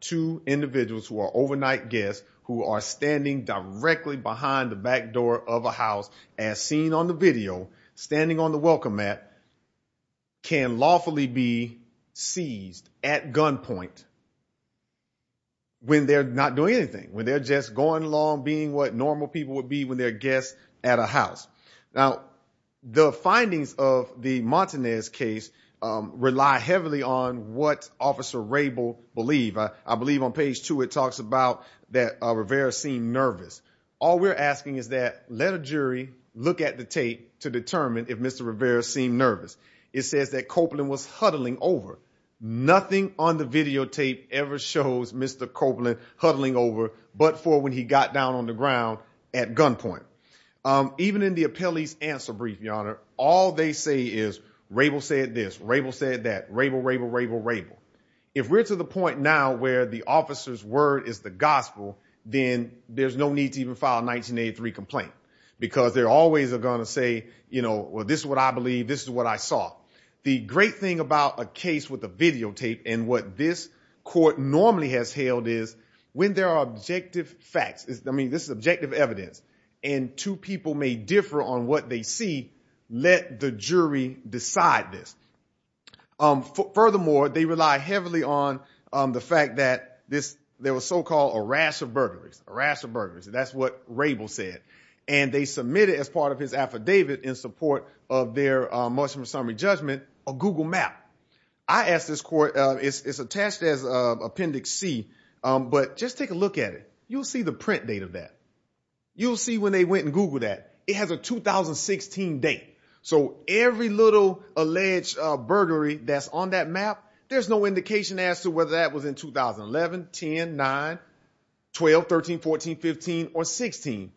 two individuals who are overnight guests who are standing directly behind the back door of a house as seen on the video standing on the welcome mat can lawfully be seized at gunpoint when they're not doing anything when they're just going along being what normal people would be when they're guests at a house now the findings of the montanez case rely heavily on what officer believe i believe on page two it talks about that uh rivera seemed nervous all we're asking is that let a jury look at the tape to determine if mr rivera seemed nervous it says that copeland was huddling over nothing on the videotape ever shows mr copeland huddling over but for when he got down on the ground at gunpoint um even in the appellee's answer brief your honor all they say is rabel said this rabel said that rabel rabel rabel rabel if we're to the point now where the officer's word is the gospel then there's no need to even file 1983 complaint because they're always are going to say you know well this is what i believe this is what i saw the great thing about a case with a videotape and what this court normally has held is when there are objective facts i mean this is objective evidence and two people may differ on what they see let the jury decide this um furthermore they rely heavily on um the fact that this there was so-called a rash of burglaries a rash of burglaries that's what rabel said and they submitted as part of his affidavit in support of their uh mushroom summary judgment a google map i asked this court uh it's it's attached as a appendix c um but just take a look at it you'll see the print date of that you'll see when they went and googled that it has a 2016 date so every little alleged burglary that's on that map there's no indication as to whether that was in 2011 10 9 12 13 14 15 or 16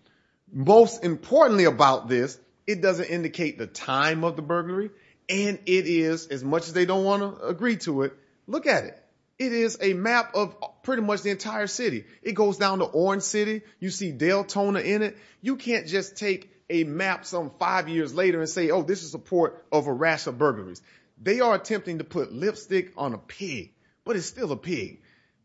most importantly about this it doesn't indicate the time of the burglary and it is as much as they don't want to agree to it look at it it is a map of pretty much the entire city it goes down to orange city you see deltona in it you can't just take a map some five years later and say oh this is a port of a rash of burglaries they are attempting to put lipstick on a pig but it's still a pig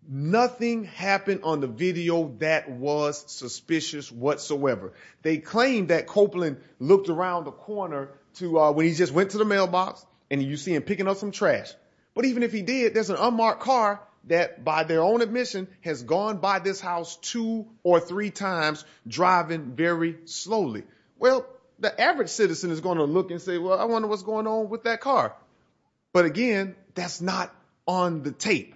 nothing happened on the video that was suspicious whatsoever they claimed that copeland looked around the corner to uh when he just went to the mailbox and you see him picking up some trash but even if he did there's an unmarked car that by their own admission has gone by this house two or three times driving very slowly well the average citizen is going to look and say well i wonder what's going on with that car but again that's not on the tape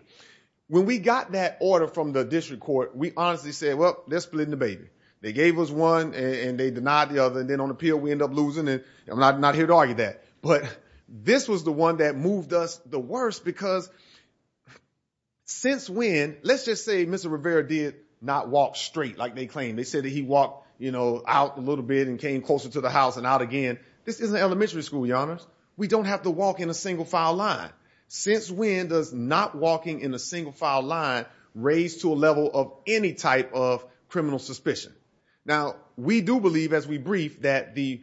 when we got that order from the district court we honestly said well they're splitting the baby they gave us one and they denied the other and then on appeal we end up losing and i'm not not here to argue that but this was the one that moved us the worst because since when let's just say mr rivera did not walk straight like they claim they said that he walked you know out a little bit and came closer to the house and out again this isn't elementary school your honors we don't have to walk in a single file line since when does not walking in a single file line raise to a level of any type of criminal suspicion now we do believe as we brief that the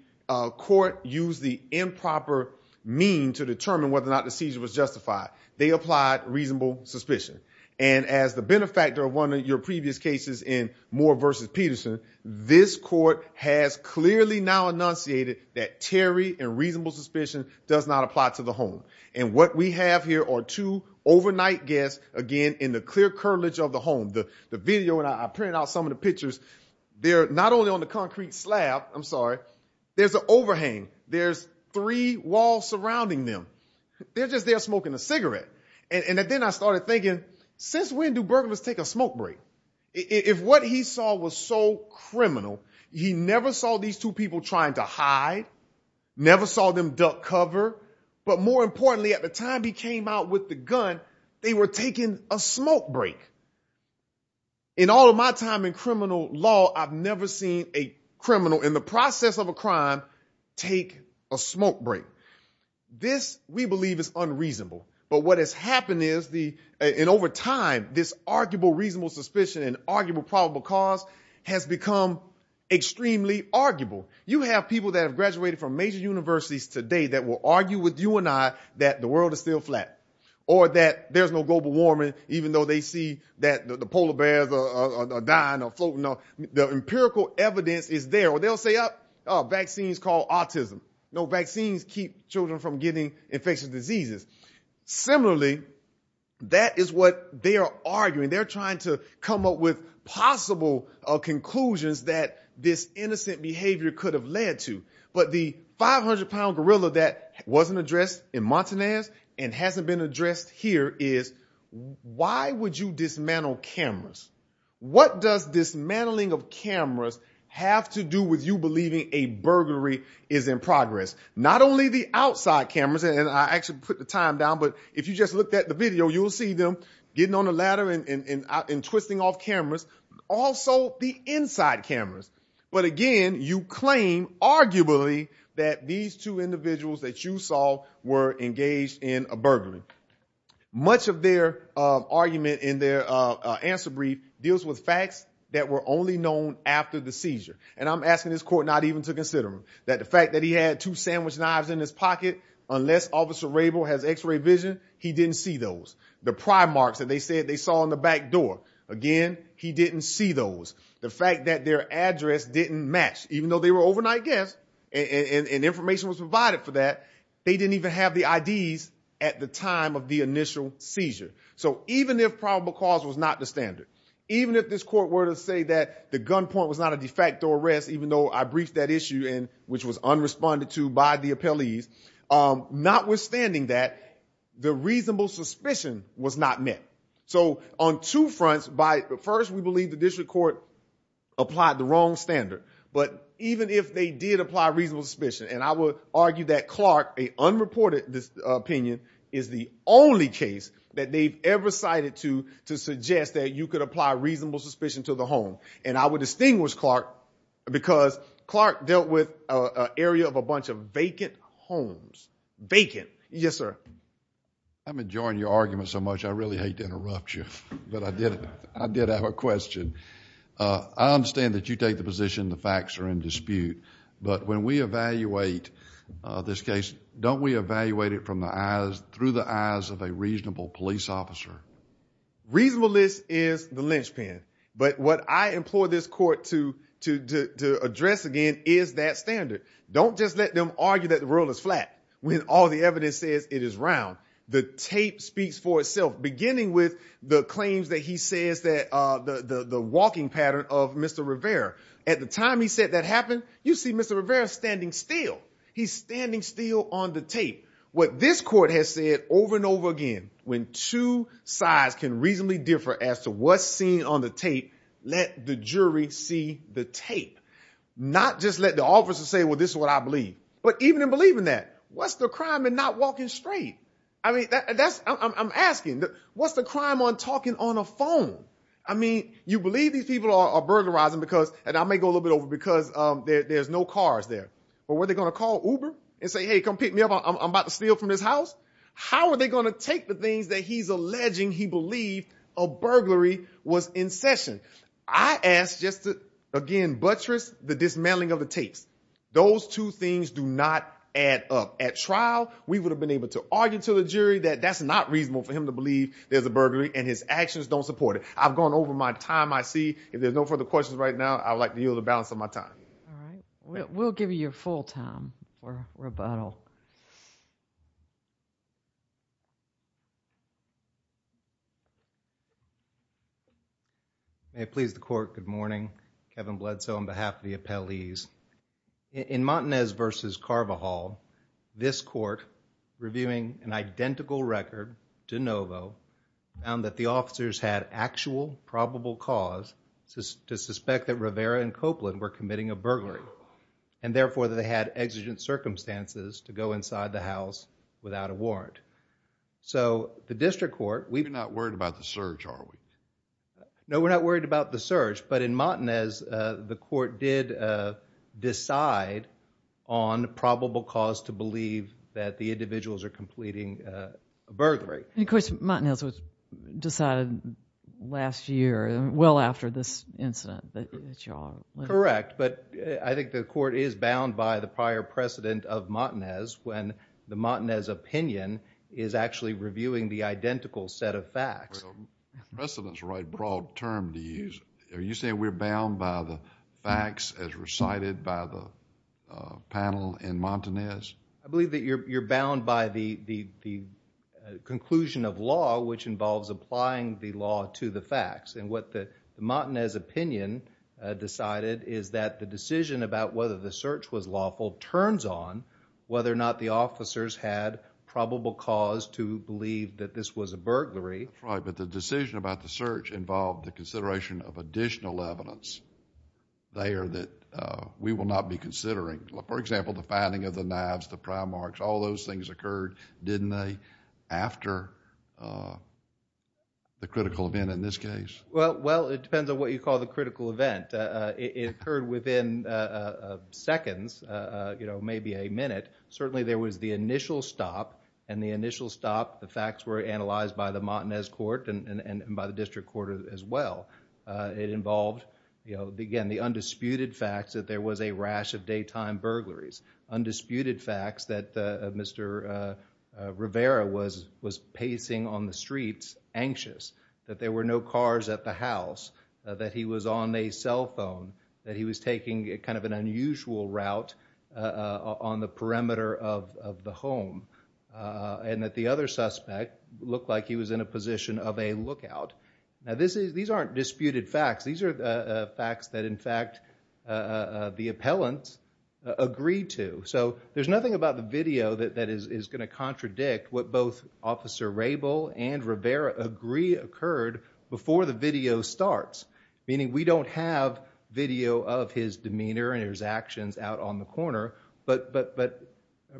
court used the improper mean to determine whether or not the seizure was justified they applied reasonable suspicion and as the benefactor of one of your previous cases in moore versus peterson this court has clearly now enunciated that terry and reasonable suspicion does not apply to the home and what we have here are two overnight guests again in the clear curtilage of the home the the video and i printed out some of the pictures they're not only on the concrete slab i'm sorry there's an overhang there's three walls surrounding them they're just there smoking a cigarette and then i started thinking since when do burglars take a smoke break if what he saw was so criminal he never saw these two people trying to hide never saw them duck cover but more importantly at the time he came out with the gun they were taking a smoke break in all of my time in criminal law i've never seen a criminal in the process of a crime take a smoke break this we believe is unreasonable but what has happened is the and over time this arguable reasonable suspicion and arguable probable cause has become extremely arguable you have people that have graduated from major universities today that will argue with you and i that the world is still flat or that there's no global warming even though they see that the polar bears are dying or floating off the empirical evidence is there or they'll say up vaccines call autism no vaccines keep children from getting infectious diseases similarly that is what they are arguing they're trying to come up with possible conclusions that this innocent behavior could have led to but the 500 pound gorilla that wasn't addressed in montanaz and hasn't been addressed here is why would you dismantle cameras what does dismantling of cameras have to do with you believing a burglary is in progress not only the outside cameras and i actually put the time down but if you just looked at the video you'll see them getting on the ladder and and and twisting off cameras also the inside cameras but again you claim arguably that these two individuals that you saw were engaged in a burglary much of their uh argument in their uh answer brief deals with facts that were only known after the seizure and i'm asking this court not even to consider them that the fact that he had two sandwich knives in his pocket unless officer rabel has x-ray vision he didn't see those the marks that they said they saw in the back door again he didn't see those the fact that their address didn't match even though they were overnight guests and information was provided for that they didn't even have the ids at the time of the initial seizure so even if probable cause was not the standard even if this court were to say that the gunpoint was not a de facto arrest even though i briefed that issue and which was unresponded to by the appellees um notwithstanding that the reasonable suspicion was not met so on two fronts by the first we believe the district court applied the wrong standard but even if they did apply reasonable suspicion and i would argue that clark a unreported this opinion is the only case that they've ever cited to to suggest that you could apply reasonable suspicion to the home and i would distinguish clark because clark dealt a area of a bunch of vacant homes vacant yes sir i'm enjoying your argument so much i really hate to interrupt you but i did i did have a question uh i understand that you take the position the facts are in dispute but when we evaluate uh this case don't we evaluate it from the eyes through the eyes of a reasonable police officer reasonableness is the linchpin but what i implore this court to to to to address again is that standard don't just let them argue that the rule is flat when all the evidence says it is round the tape speaks for itself beginning with the claims that he says that uh the the the walking pattern of mr rivera at the time he said that happened you see mr rivera standing still he's standing still on the tape what this court has said over and over again when two sides can reasonably differ as to what's seen on the tape let the jury see the tape not just let the officer say well this is what i believe but even in believing that what's the crime and not walking straight i mean that's i'm asking what's the crime on talking on a phone i mean you believe these people are burglarizing because and i may go a little bit over because um there's no cars there but were they going to call uber and say hey come pick me i'm about to steal from this house how are they going to take the things that he's alleging he believed a burglary was in session i asked just to again buttress the dismantling of the tapes those two things do not add up at trial we would have been able to argue to the jury that that's not reasonable for him to believe there's a burglary and his actions don't support it i've gone over my time i see if there's no further questions right now i would like to be able to all right we'll give you your full time for rebuttal may it please the court good morning kevin bledsoe on behalf of the appellees in montanez versus carver hall this court reviewing an identical record de novo found that the officers had actual probable cause to suspect that rivera and copeland were committing a burglary and therefore they had exigent circumstances to go inside the house without a warrant so the district court we're not worried about the search are we no we're not worried about the search but in montanez uh the court did uh decide on probable cause to believe that the decided last year well after this incident that y'all correct but i think the court is bound by the prior precedent of montanez when the montanez opinion is actually reviewing the identical set of facts precedents right broad term to use are you saying we're bound by the facts as recited by the uh panel in montanez i believe that you're you're bound by the the the conclusion of law which involves applying the law to the facts and what the montanez opinion uh decided is that the decision about whether the search was lawful turns on whether or not the officers had probable cause to believe that this was a burglary right but the decision about the search involved the consideration of additional evidence there that uh we will not be considering for example the finding of the the critical event in this case well well it depends on what you call the critical event uh it occurred within uh seconds uh you know maybe a minute certainly there was the initial stop and the initial stop the facts were analyzed by the montanez court and and by the district court as well uh it involved you know again the undisputed facts that there was a rash of anxious that there were no cars at the house that he was on a cell phone that he was taking kind of an unusual route uh on the perimeter of of the home uh and that the other suspect looked like he was in a position of a lookout now this is these aren't disputed facts these are uh facts that in fact uh the appellants agreed to so there's nothing about the video that that is is going to contradict what both officer rabel and rivera agree occurred before the video starts meaning we don't have video of his demeanor and his actions out on the corner but but but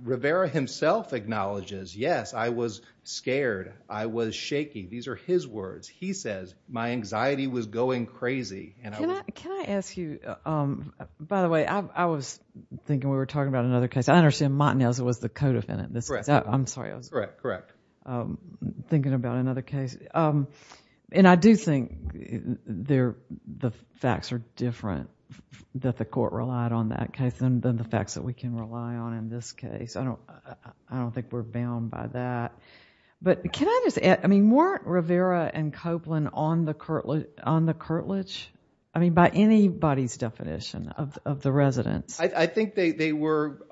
rivera himself acknowledges yes i was scared i was shaky these are his words he says my anxiety was going crazy and can i can i ask you um by the way i i was thinking we were talking about another case i understand montanez was the co-defendant this is i'm sorry i was correct correct um thinking about another case um and i do think they're the facts are different that the court relied on that case and then the facts that we can rely on in this case i don't i don't think we're bound by that but can i just i mean weren't rivera and copeland on the curtland on the i think they they were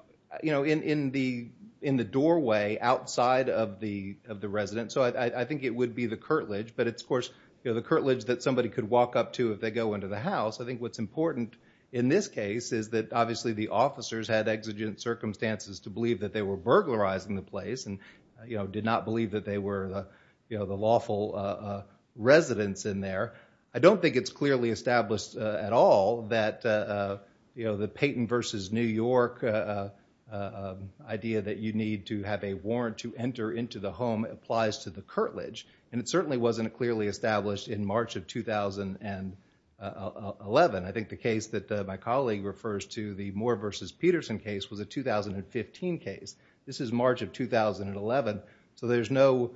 you know in in the in the doorway outside of the of the resident so i i think it would be the curtilage but it's of course you know the curtilage that somebody could walk up to if they go into the house i think what's important in this case is that obviously the officers had exigent circumstances to believe that they were burglarizing the place and you know did not believe that they were you know the lawful uh residents in there i don't think it's clearly established at all that uh you know the payton versus new york uh uh idea that you need to have a warrant to enter into the home applies to the curtilage and it certainly wasn't clearly established in march of 2011 i think the case that my colleague refers to the moore versus peterson case was a 2015 case this is march of 2011 so there's no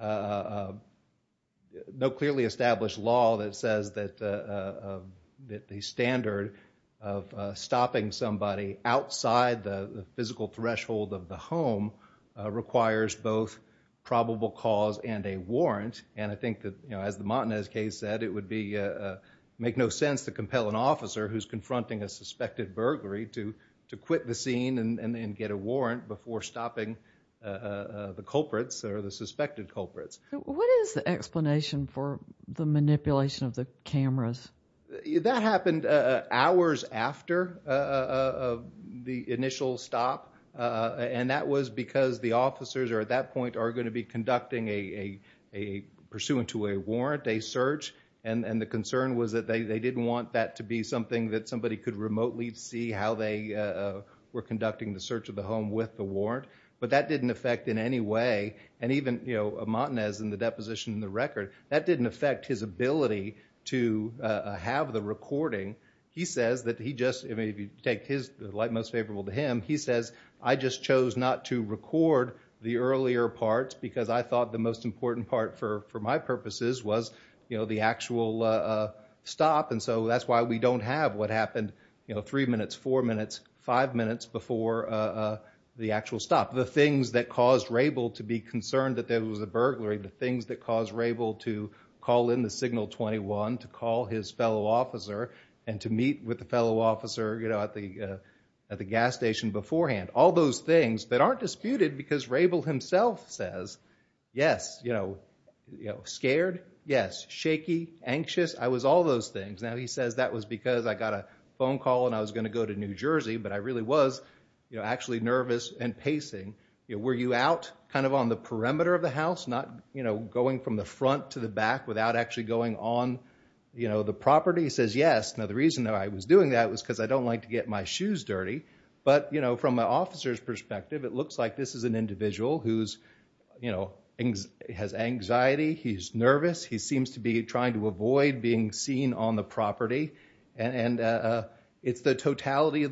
uh no clearly established law that says that uh that the standard of stopping somebody outside the physical threshold of the home requires both probable cause and a warrant and i think that you know as the montanez case said it would be uh make no sense to compel an officer who's confronting a suspected burglary to to quit the scene and and get a warrant before stopping uh the culprits or the suspected culprits what is the explanation for the manipulation of the cameras that happened uh hours after uh of the initial stop uh and that was because the officers are at that point are going to be conducting a a pursuant to a warrant a search and and the concern was that they they didn't want that to be something that somebody could remotely see how they uh were conducting the search of the home with the warrant but that didn't affect in any way and even you know montanez in the deposition in the record that didn't affect his ability to uh have the recording he says that he just i mean if you take his like most favorable to him he says i just chose not to record the earlier parts because i thought the most important part for for my purposes was you know the actual uh stop and so that's why we don't have what happened you know three minutes four minutes five minutes before uh the actual stop the things that caused rabel to be concerned that there was a burglary the things that caused rabel to call in the signal 21 to call his fellow officer and to meet with the fellow officer you know at the uh at the gas station beforehand all those things that aren't disputed because rabel himself says yes you know you know scared yes shaky anxious i was all those things now he says that was because i got a phone call and i was going to go to new jersey but i really was you know actually nervous and pacing you were you out kind of on the perimeter of the house not you know going from the front to the back without actually going on you know the property says yes now the reason that i was doing that was because i don't like to get my shoes dirty but you know from my officer's perspective it looks like this is an individual who's you know has anxiety he's nervous he seems to be trying to avoid being seen on the of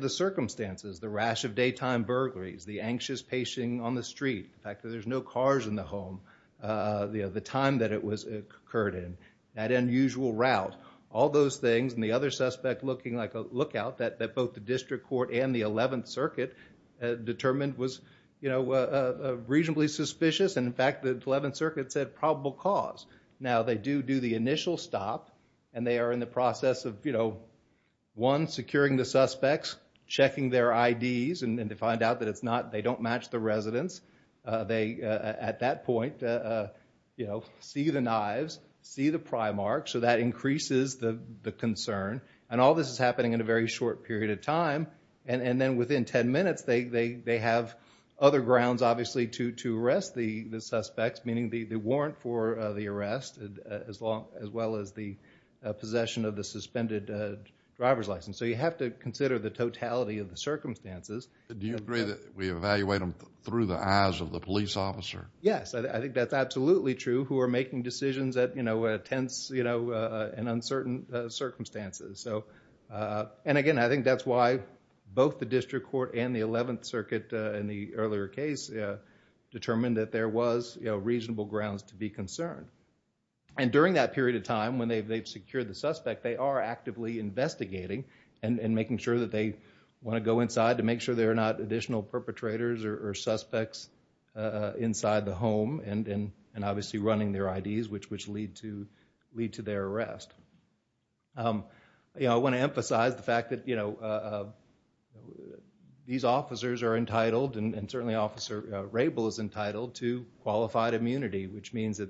the circumstances the rash of daytime burglaries the anxious pacing on the street the fact that there's no cars in the home uh the time that it was occurred in that unusual route all those things and the other suspect looking like a lookout that that both the district court and the 11th circuit determined was you know uh reasonably suspicious and in fact the 11th circuit said probable cause now they do do the initial stop and they are in the process of you know one securing the suspects checking their ids and to find out that it's not they don't match the residents uh they at that point uh you know see the knives see the pry mark so that increases the the concern and all this is happening in a very short period of time and and then within 10 minutes they they they have other grounds obviously to to arrest the the suspects meaning the the warrant for the arrest as long as well as the possession of the suspended uh driver's license so you have to consider the totality of the circumstances do you agree that we evaluate them through the eyes of the police officer yes i think that's absolutely true who are making decisions that you know attends you know uh in uncertain circumstances so uh and again i think that's why both the district court and the 11th circuit in the earlier case determined that there was you know reasonable grounds to be concerned and during that period of time when they've they've secured the suspect they are actively investigating and and making sure that they want to go inside to make sure they're not additional perpetrators or suspects uh inside the home and and obviously running their ids which which lead to lead to their arrest um you know i want to emphasize the fact that you know uh these officers are entitled and certainly officer rabel is entitled to qualified immunity which means that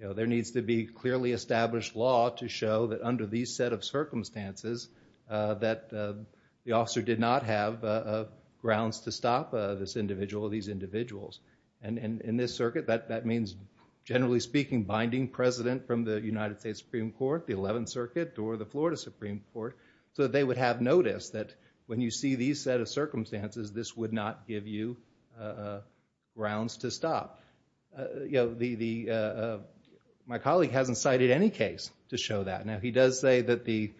you know there needs to be clearly established law to show that under these set of circumstances uh that the officer did not have uh grounds to stop uh this individual these individuals and and in this circuit that that means generally speaking binding president from the united states supreme court the 11th circuit or the florida supreme court so they would have noticed that when you see these set of circumstances this would not give you uh grounds to stop uh you know the the uh my colleague hasn't cited any case to show that now he does say that the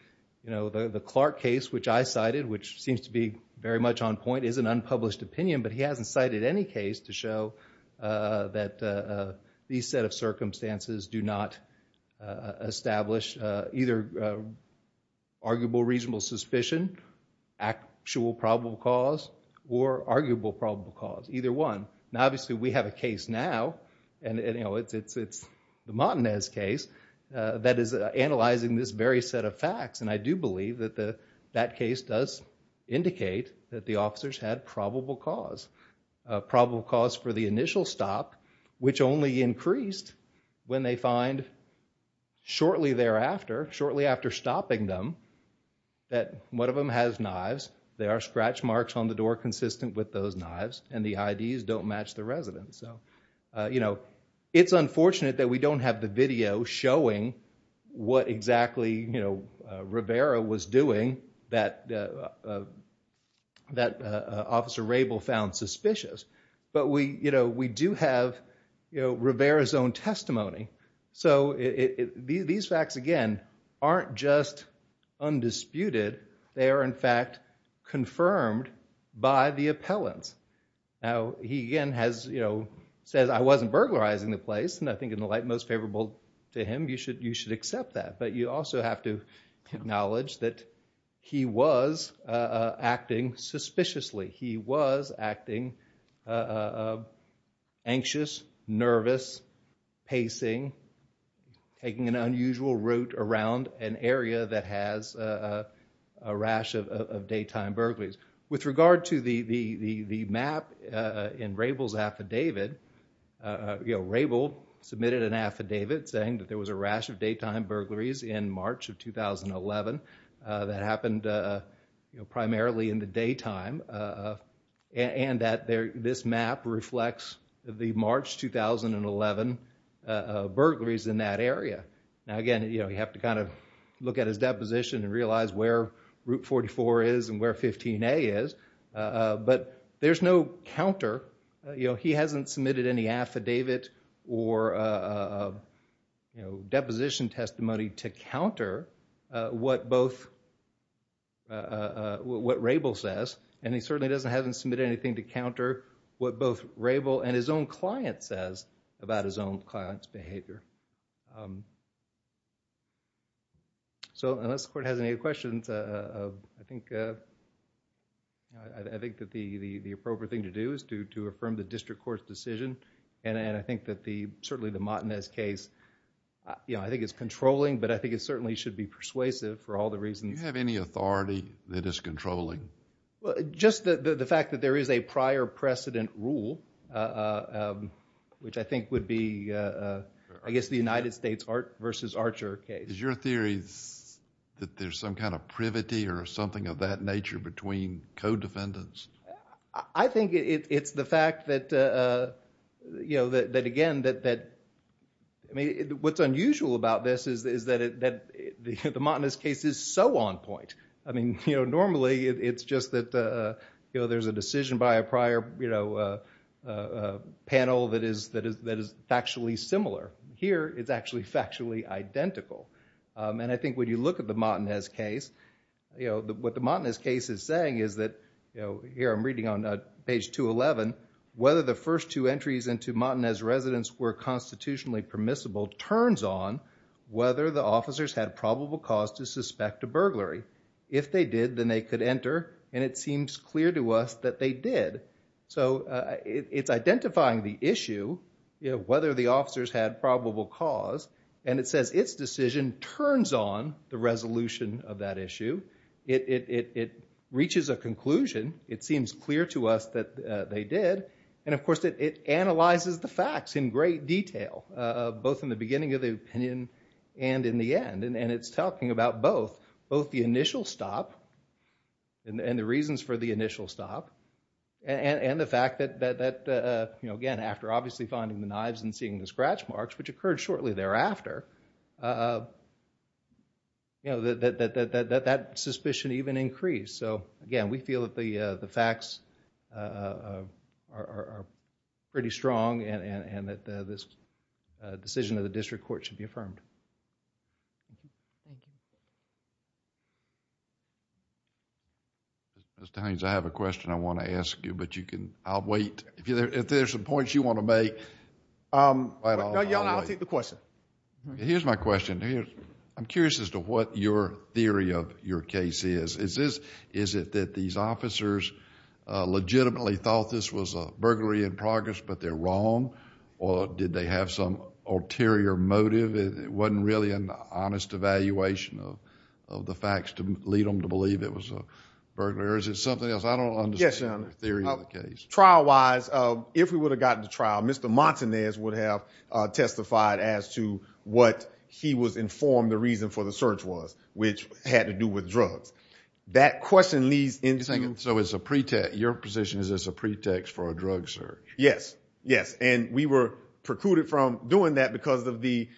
you know the clark case which i cited which seems to be very much on point is an unpublished opinion but he hasn't cited any case to show uh that uh these set of circumstances do not establish uh either uh arguable reasonable suspicion actual probable cause or arguable probable cause either one now obviously we have a case now and you know it's it's it's the matinez case uh that is analyzing this very set of facts and i do believe that the that case does indicate that the officers had probable cause probable cause for the initial stop which only increased when they find shortly thereafter shortly after stopping them that one of them has knives they are scratch marks on the door consistent with those knives and the ids don't match the residents so you know it's unfortunate that we don't have the video showing what exactly you know rivera was doing that uh that uh officer rabel found suspicious but we you know we do have you know rivera's own testimony so it these facts again aren't just undisputed they are in fact confirmed by the appellants now he again has you know says i wasn't burglarizing the place and i think in the light most favorable to him you should you should accept that but you also have to nervous pacing taking an unusual route around an area that has a a rash of of daytime burglaries with regard to the the the the map uh in rabel's affidavit uh you know rabel submitted an affidavit saying that there was a rash of daytime burglaries in march of 2011 uh that happened uh you know 2011 uh burglaries in that area now again you know you have to kind of look at his deposition and realize where route 44 is and where 15a is uh but there's no counter you know he hasn't submitted any affidavit or uh you know deposition testimony to counter uh what both uh what rabel says and he certainly doesn't hasn't submitted anything to counter what both rabel and his own client says about his own client's behavior so unless the court has any questions uh i think uh i think that the the the appropriate thing to do is to to affirm the district court's decision and and i think that the certainly the matinez case you know i think it's controlling but i think it certainly should be persuasive for all the reasons you have any authority that is which i think would be uh i guess the united states art versus archer case is your theory that there's some kind of privity or something of that nature between co-defendants i think it's the fact that uh you know that again that that i mean what's unusual about this is is that it that the the montanus case is so on point i mean you know normally it's just that uh you know there's a decision by a prior you know uh uh panel that is that is that is factually similar here it's actually factually identical um and i think when you look at the montanez case you know what the montanez case is saying is that you know here i'm reading on page 211 whether the first two entries into montanez residents were constitutionally permissible turns on whether the officers had probable cause to suspect a burglary if they did then they could enter and it seems clear to us that they did so it's identifying the issue you know whether the officers had probable cause and it says its decision turns on the resolution of that issue it it it reaches a conclusion it seems clear to us that they did and of course it analyzes the facts in great detail uh both in the beginning of the opinion and in the end and it's talking about both both the initial stop and the reasons for the initial stop and and the fact that that that uh you know again after obviously finding the knives and seeing the scratch marks which occurred shortly thereafter uh you know that that that that that that suspicion even increased so again we feel that the uh the times i have a question i want to ask you but you can i'll wait if there's some points you want to make um i don't know y'all i'll take the question here's my question here i'm curious as to what your theory of your case is is this is it that these officers uh legitimately thought this was a burglary in progress but they're wrong or did they have some ulterior motive it wasn't really an honest evaluation of of the facts to lead them to believe it was a burglary or is it something else i don't understand the theory of the case trial wise uh if we would have gotten the trial mr montanez would have uh testified as to what he was informed the reason for the search was which had to do with drugs that question leads into thinking so it's a pretext your position is this a pretext for a drug search yes yes and we were precluded from doing that because of the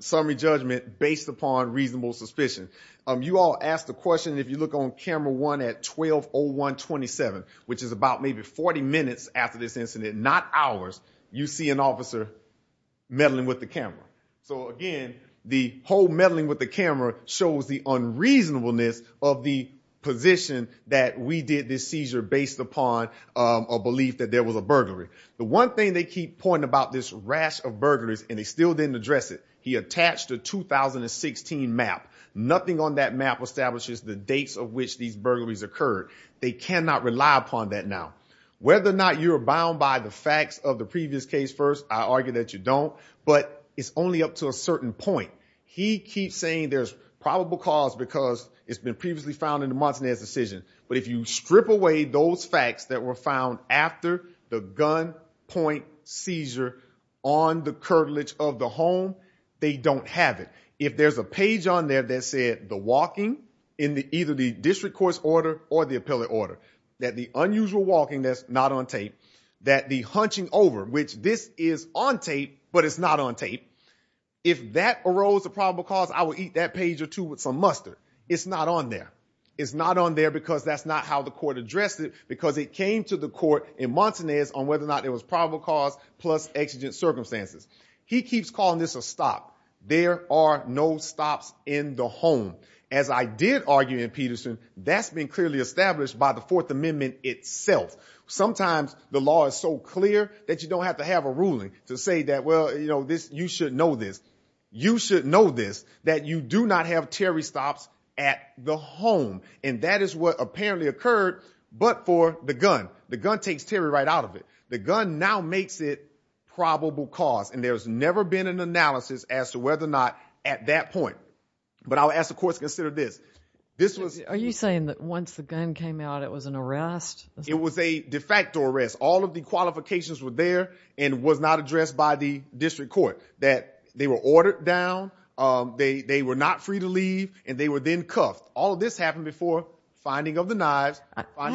summary judgment based upon reasonable suspicion um you all ask the question if you look on camera one at 1201 27 which is about maybe 40 minutes after this incident not hours you see an officer meddling with the camera so again the whole meddling with the camera shows the unreasonableness of the position that we did this seizure based upon a belief that there was a burglary the one they keep pointing about this rash of burglaries and they still didn't address it he attached a 2016 map nothing on that map establishes the dates of which these burglaries occurred they cannot rely upon that now whether or not you're bound by the facts of the previous case first i argue that you don't but it's only up to a certain point he keeps saying there's probable cause because it's been previously found in the montanez decision but if you strip away those facts that were found after the gun point seizure on the curtilage of the home they don't have it if there's a page on there that said the walking in the either the district court's order or the appellate order that the unusual walking that's not on tape that the hunching over which this is on tape but it's not on tape if that arose a probable cause i would eat that page or two with some mustard it's not on there it's not on there because that's not how the court addressed it because it came to the court in montanez on whether or not it was probable cause plus exigent circumstances he keeps calling this a stop there are no stops in the home as i did argue in peterson that's been clearly established by the fourth amendment itself sometimes the law is so clear that you don't have to have a ruling to say that well you know this you should know this you should know this that you do not have terry stops at the home and that is apparently occurred but for the gun the gun takes terry right out of it the gun now makes it probable cause and there's never been an analysis as to whether or not at that point but i'll ask the courts consider this this was are you saying that once the gun came out it was an arrest it was a de facto arrest all of the qualifications were there and was not addressed by the district court that they were ordered down um they they were not free to leave and they were then cuffed all this happened before finding of the knives i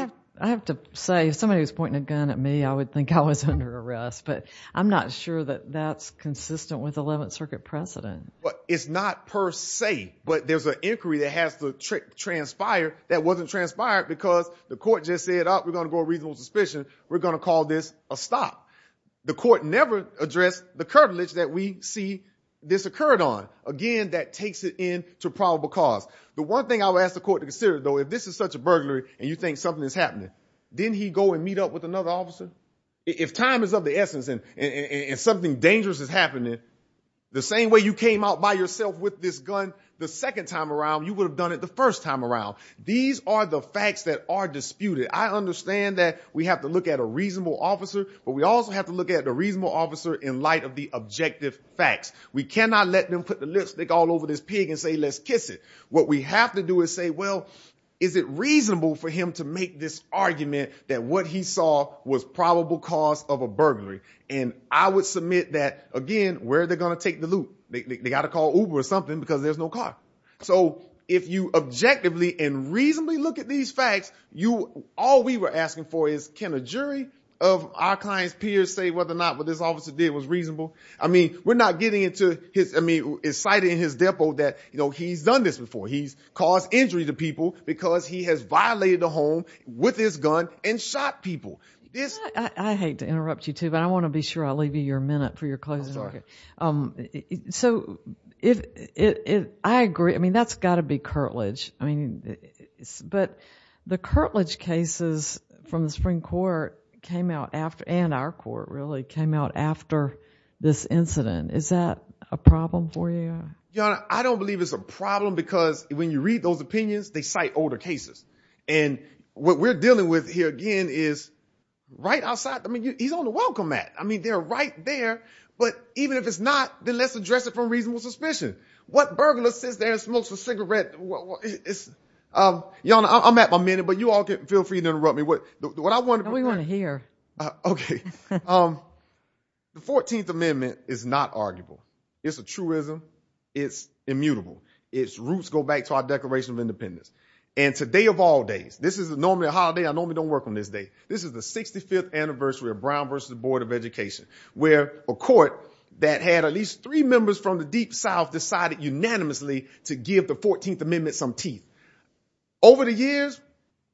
have to say somebody was pointing a gun at me i would think i was under arrest but i'm not sure that that's consistent with 11th circuit precedent but it's not per se but there's an inquiry that has to transpire that wasn't transpired because the court just said oh we're going to go a reasonable suspicion we're going to call this a stop the court never addressed the curtilage that we see this occurred on again that takes it in to probable cause the one thing i would ask the court to consider though if this is such a burglary and you think something is happening then he go and meet up with another officer if time is of the essence and and something dangerous is happening the same way you came out by yourself with this gun the second time around you would have done it the first time around these are the facts that are disputed i understand that we have to look at a reasonable officer but we also have to look at the reasonable officer in light of the objective facts we cannot let them put the lipstick all over this pig and say let's kiss it what we have to do is say well is it reasonable for him to make this argument that what he saw was probable cause of a burglary and i would submit that again where they're going to take the loop they got to call uber or something because there's no car so if you objectively and reasonably look at these facts you all we were asking for is can a jury of our client's peers say whether or not what this officer did was reasonable i mean we're not getting into his i mean it's cited in his depo that you know he's done this before he's caused injury to people because he has violated the home with his gun and shot people this i hate to interrupt you too but i want to be sure i'll leave you your minute for your closing okay um so if it i agree i mean that's got to be curtilage i mean it's but the this incident is that a problem for you your honor i don't believe it's a problem because when you read those opinions they cite older cases and what we're dealing with here again is right outside i mean he's on the welcome mat i mean they're right there but even if it's not then let's address it from reasonable suspicion what burglar sits there and smokes a cigarette um y'all i'm at my minute but you all can feel free to interrupt me what what i want we want to okay um the 14th amendment is not arguable it's a truism it's immutable its roots go back to our declaration of independence and today of all days this is normally a holiday i normally don't work on this day this is the 65th anniversary of brown versus the board of education where a court that had at least three members from the deep south decided unanimously to give the 14th amendment some teeth over the years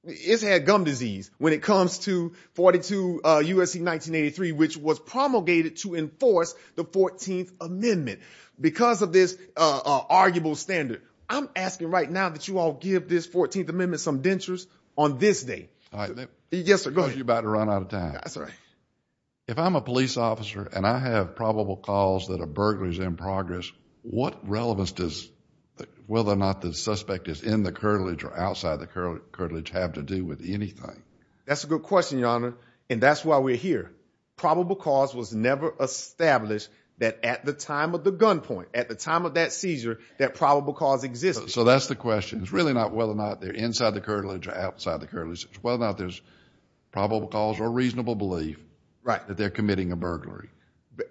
it's had gum disease when it comes to 42 uh usc 1983 which was promulgated to enforce the 14th amendment because of this uh arguable standard i'm asking right now that you all give this 14th amendment some dentures on this day all right yes sir go ahead you're about to run out of time that's right if i'm a police officer and i have probable calls that are burglaries in progress what relevance does whether or not the suspect is in the cartilage or outside the cartilage have to do with anything that's a good question your honor and that's why we're here probable cause was never established that at the time of the gunpoint at the time of that seizure that probable cause existed so that's the question it's really not whether or not they're inside the cartilage or outside the currently whether or not there's probable cause or reasonable belief right that they're committing a burglary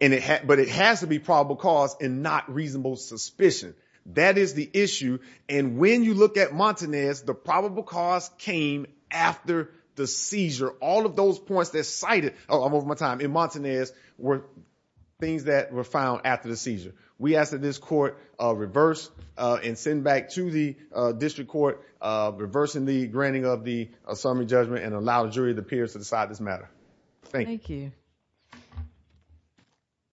and it had but it has to be probable cause and not reasonable suspicion that is the issue and when you look at montanez the probable cause came after the seizure all of those points that cited oh i'm over my time in montanez were things that were found after the seizure we ask that this court uh reverse uh and send back to the uh district court uh reversing the granting of the summary judgment and allow the jury the peers to decide this matter thank you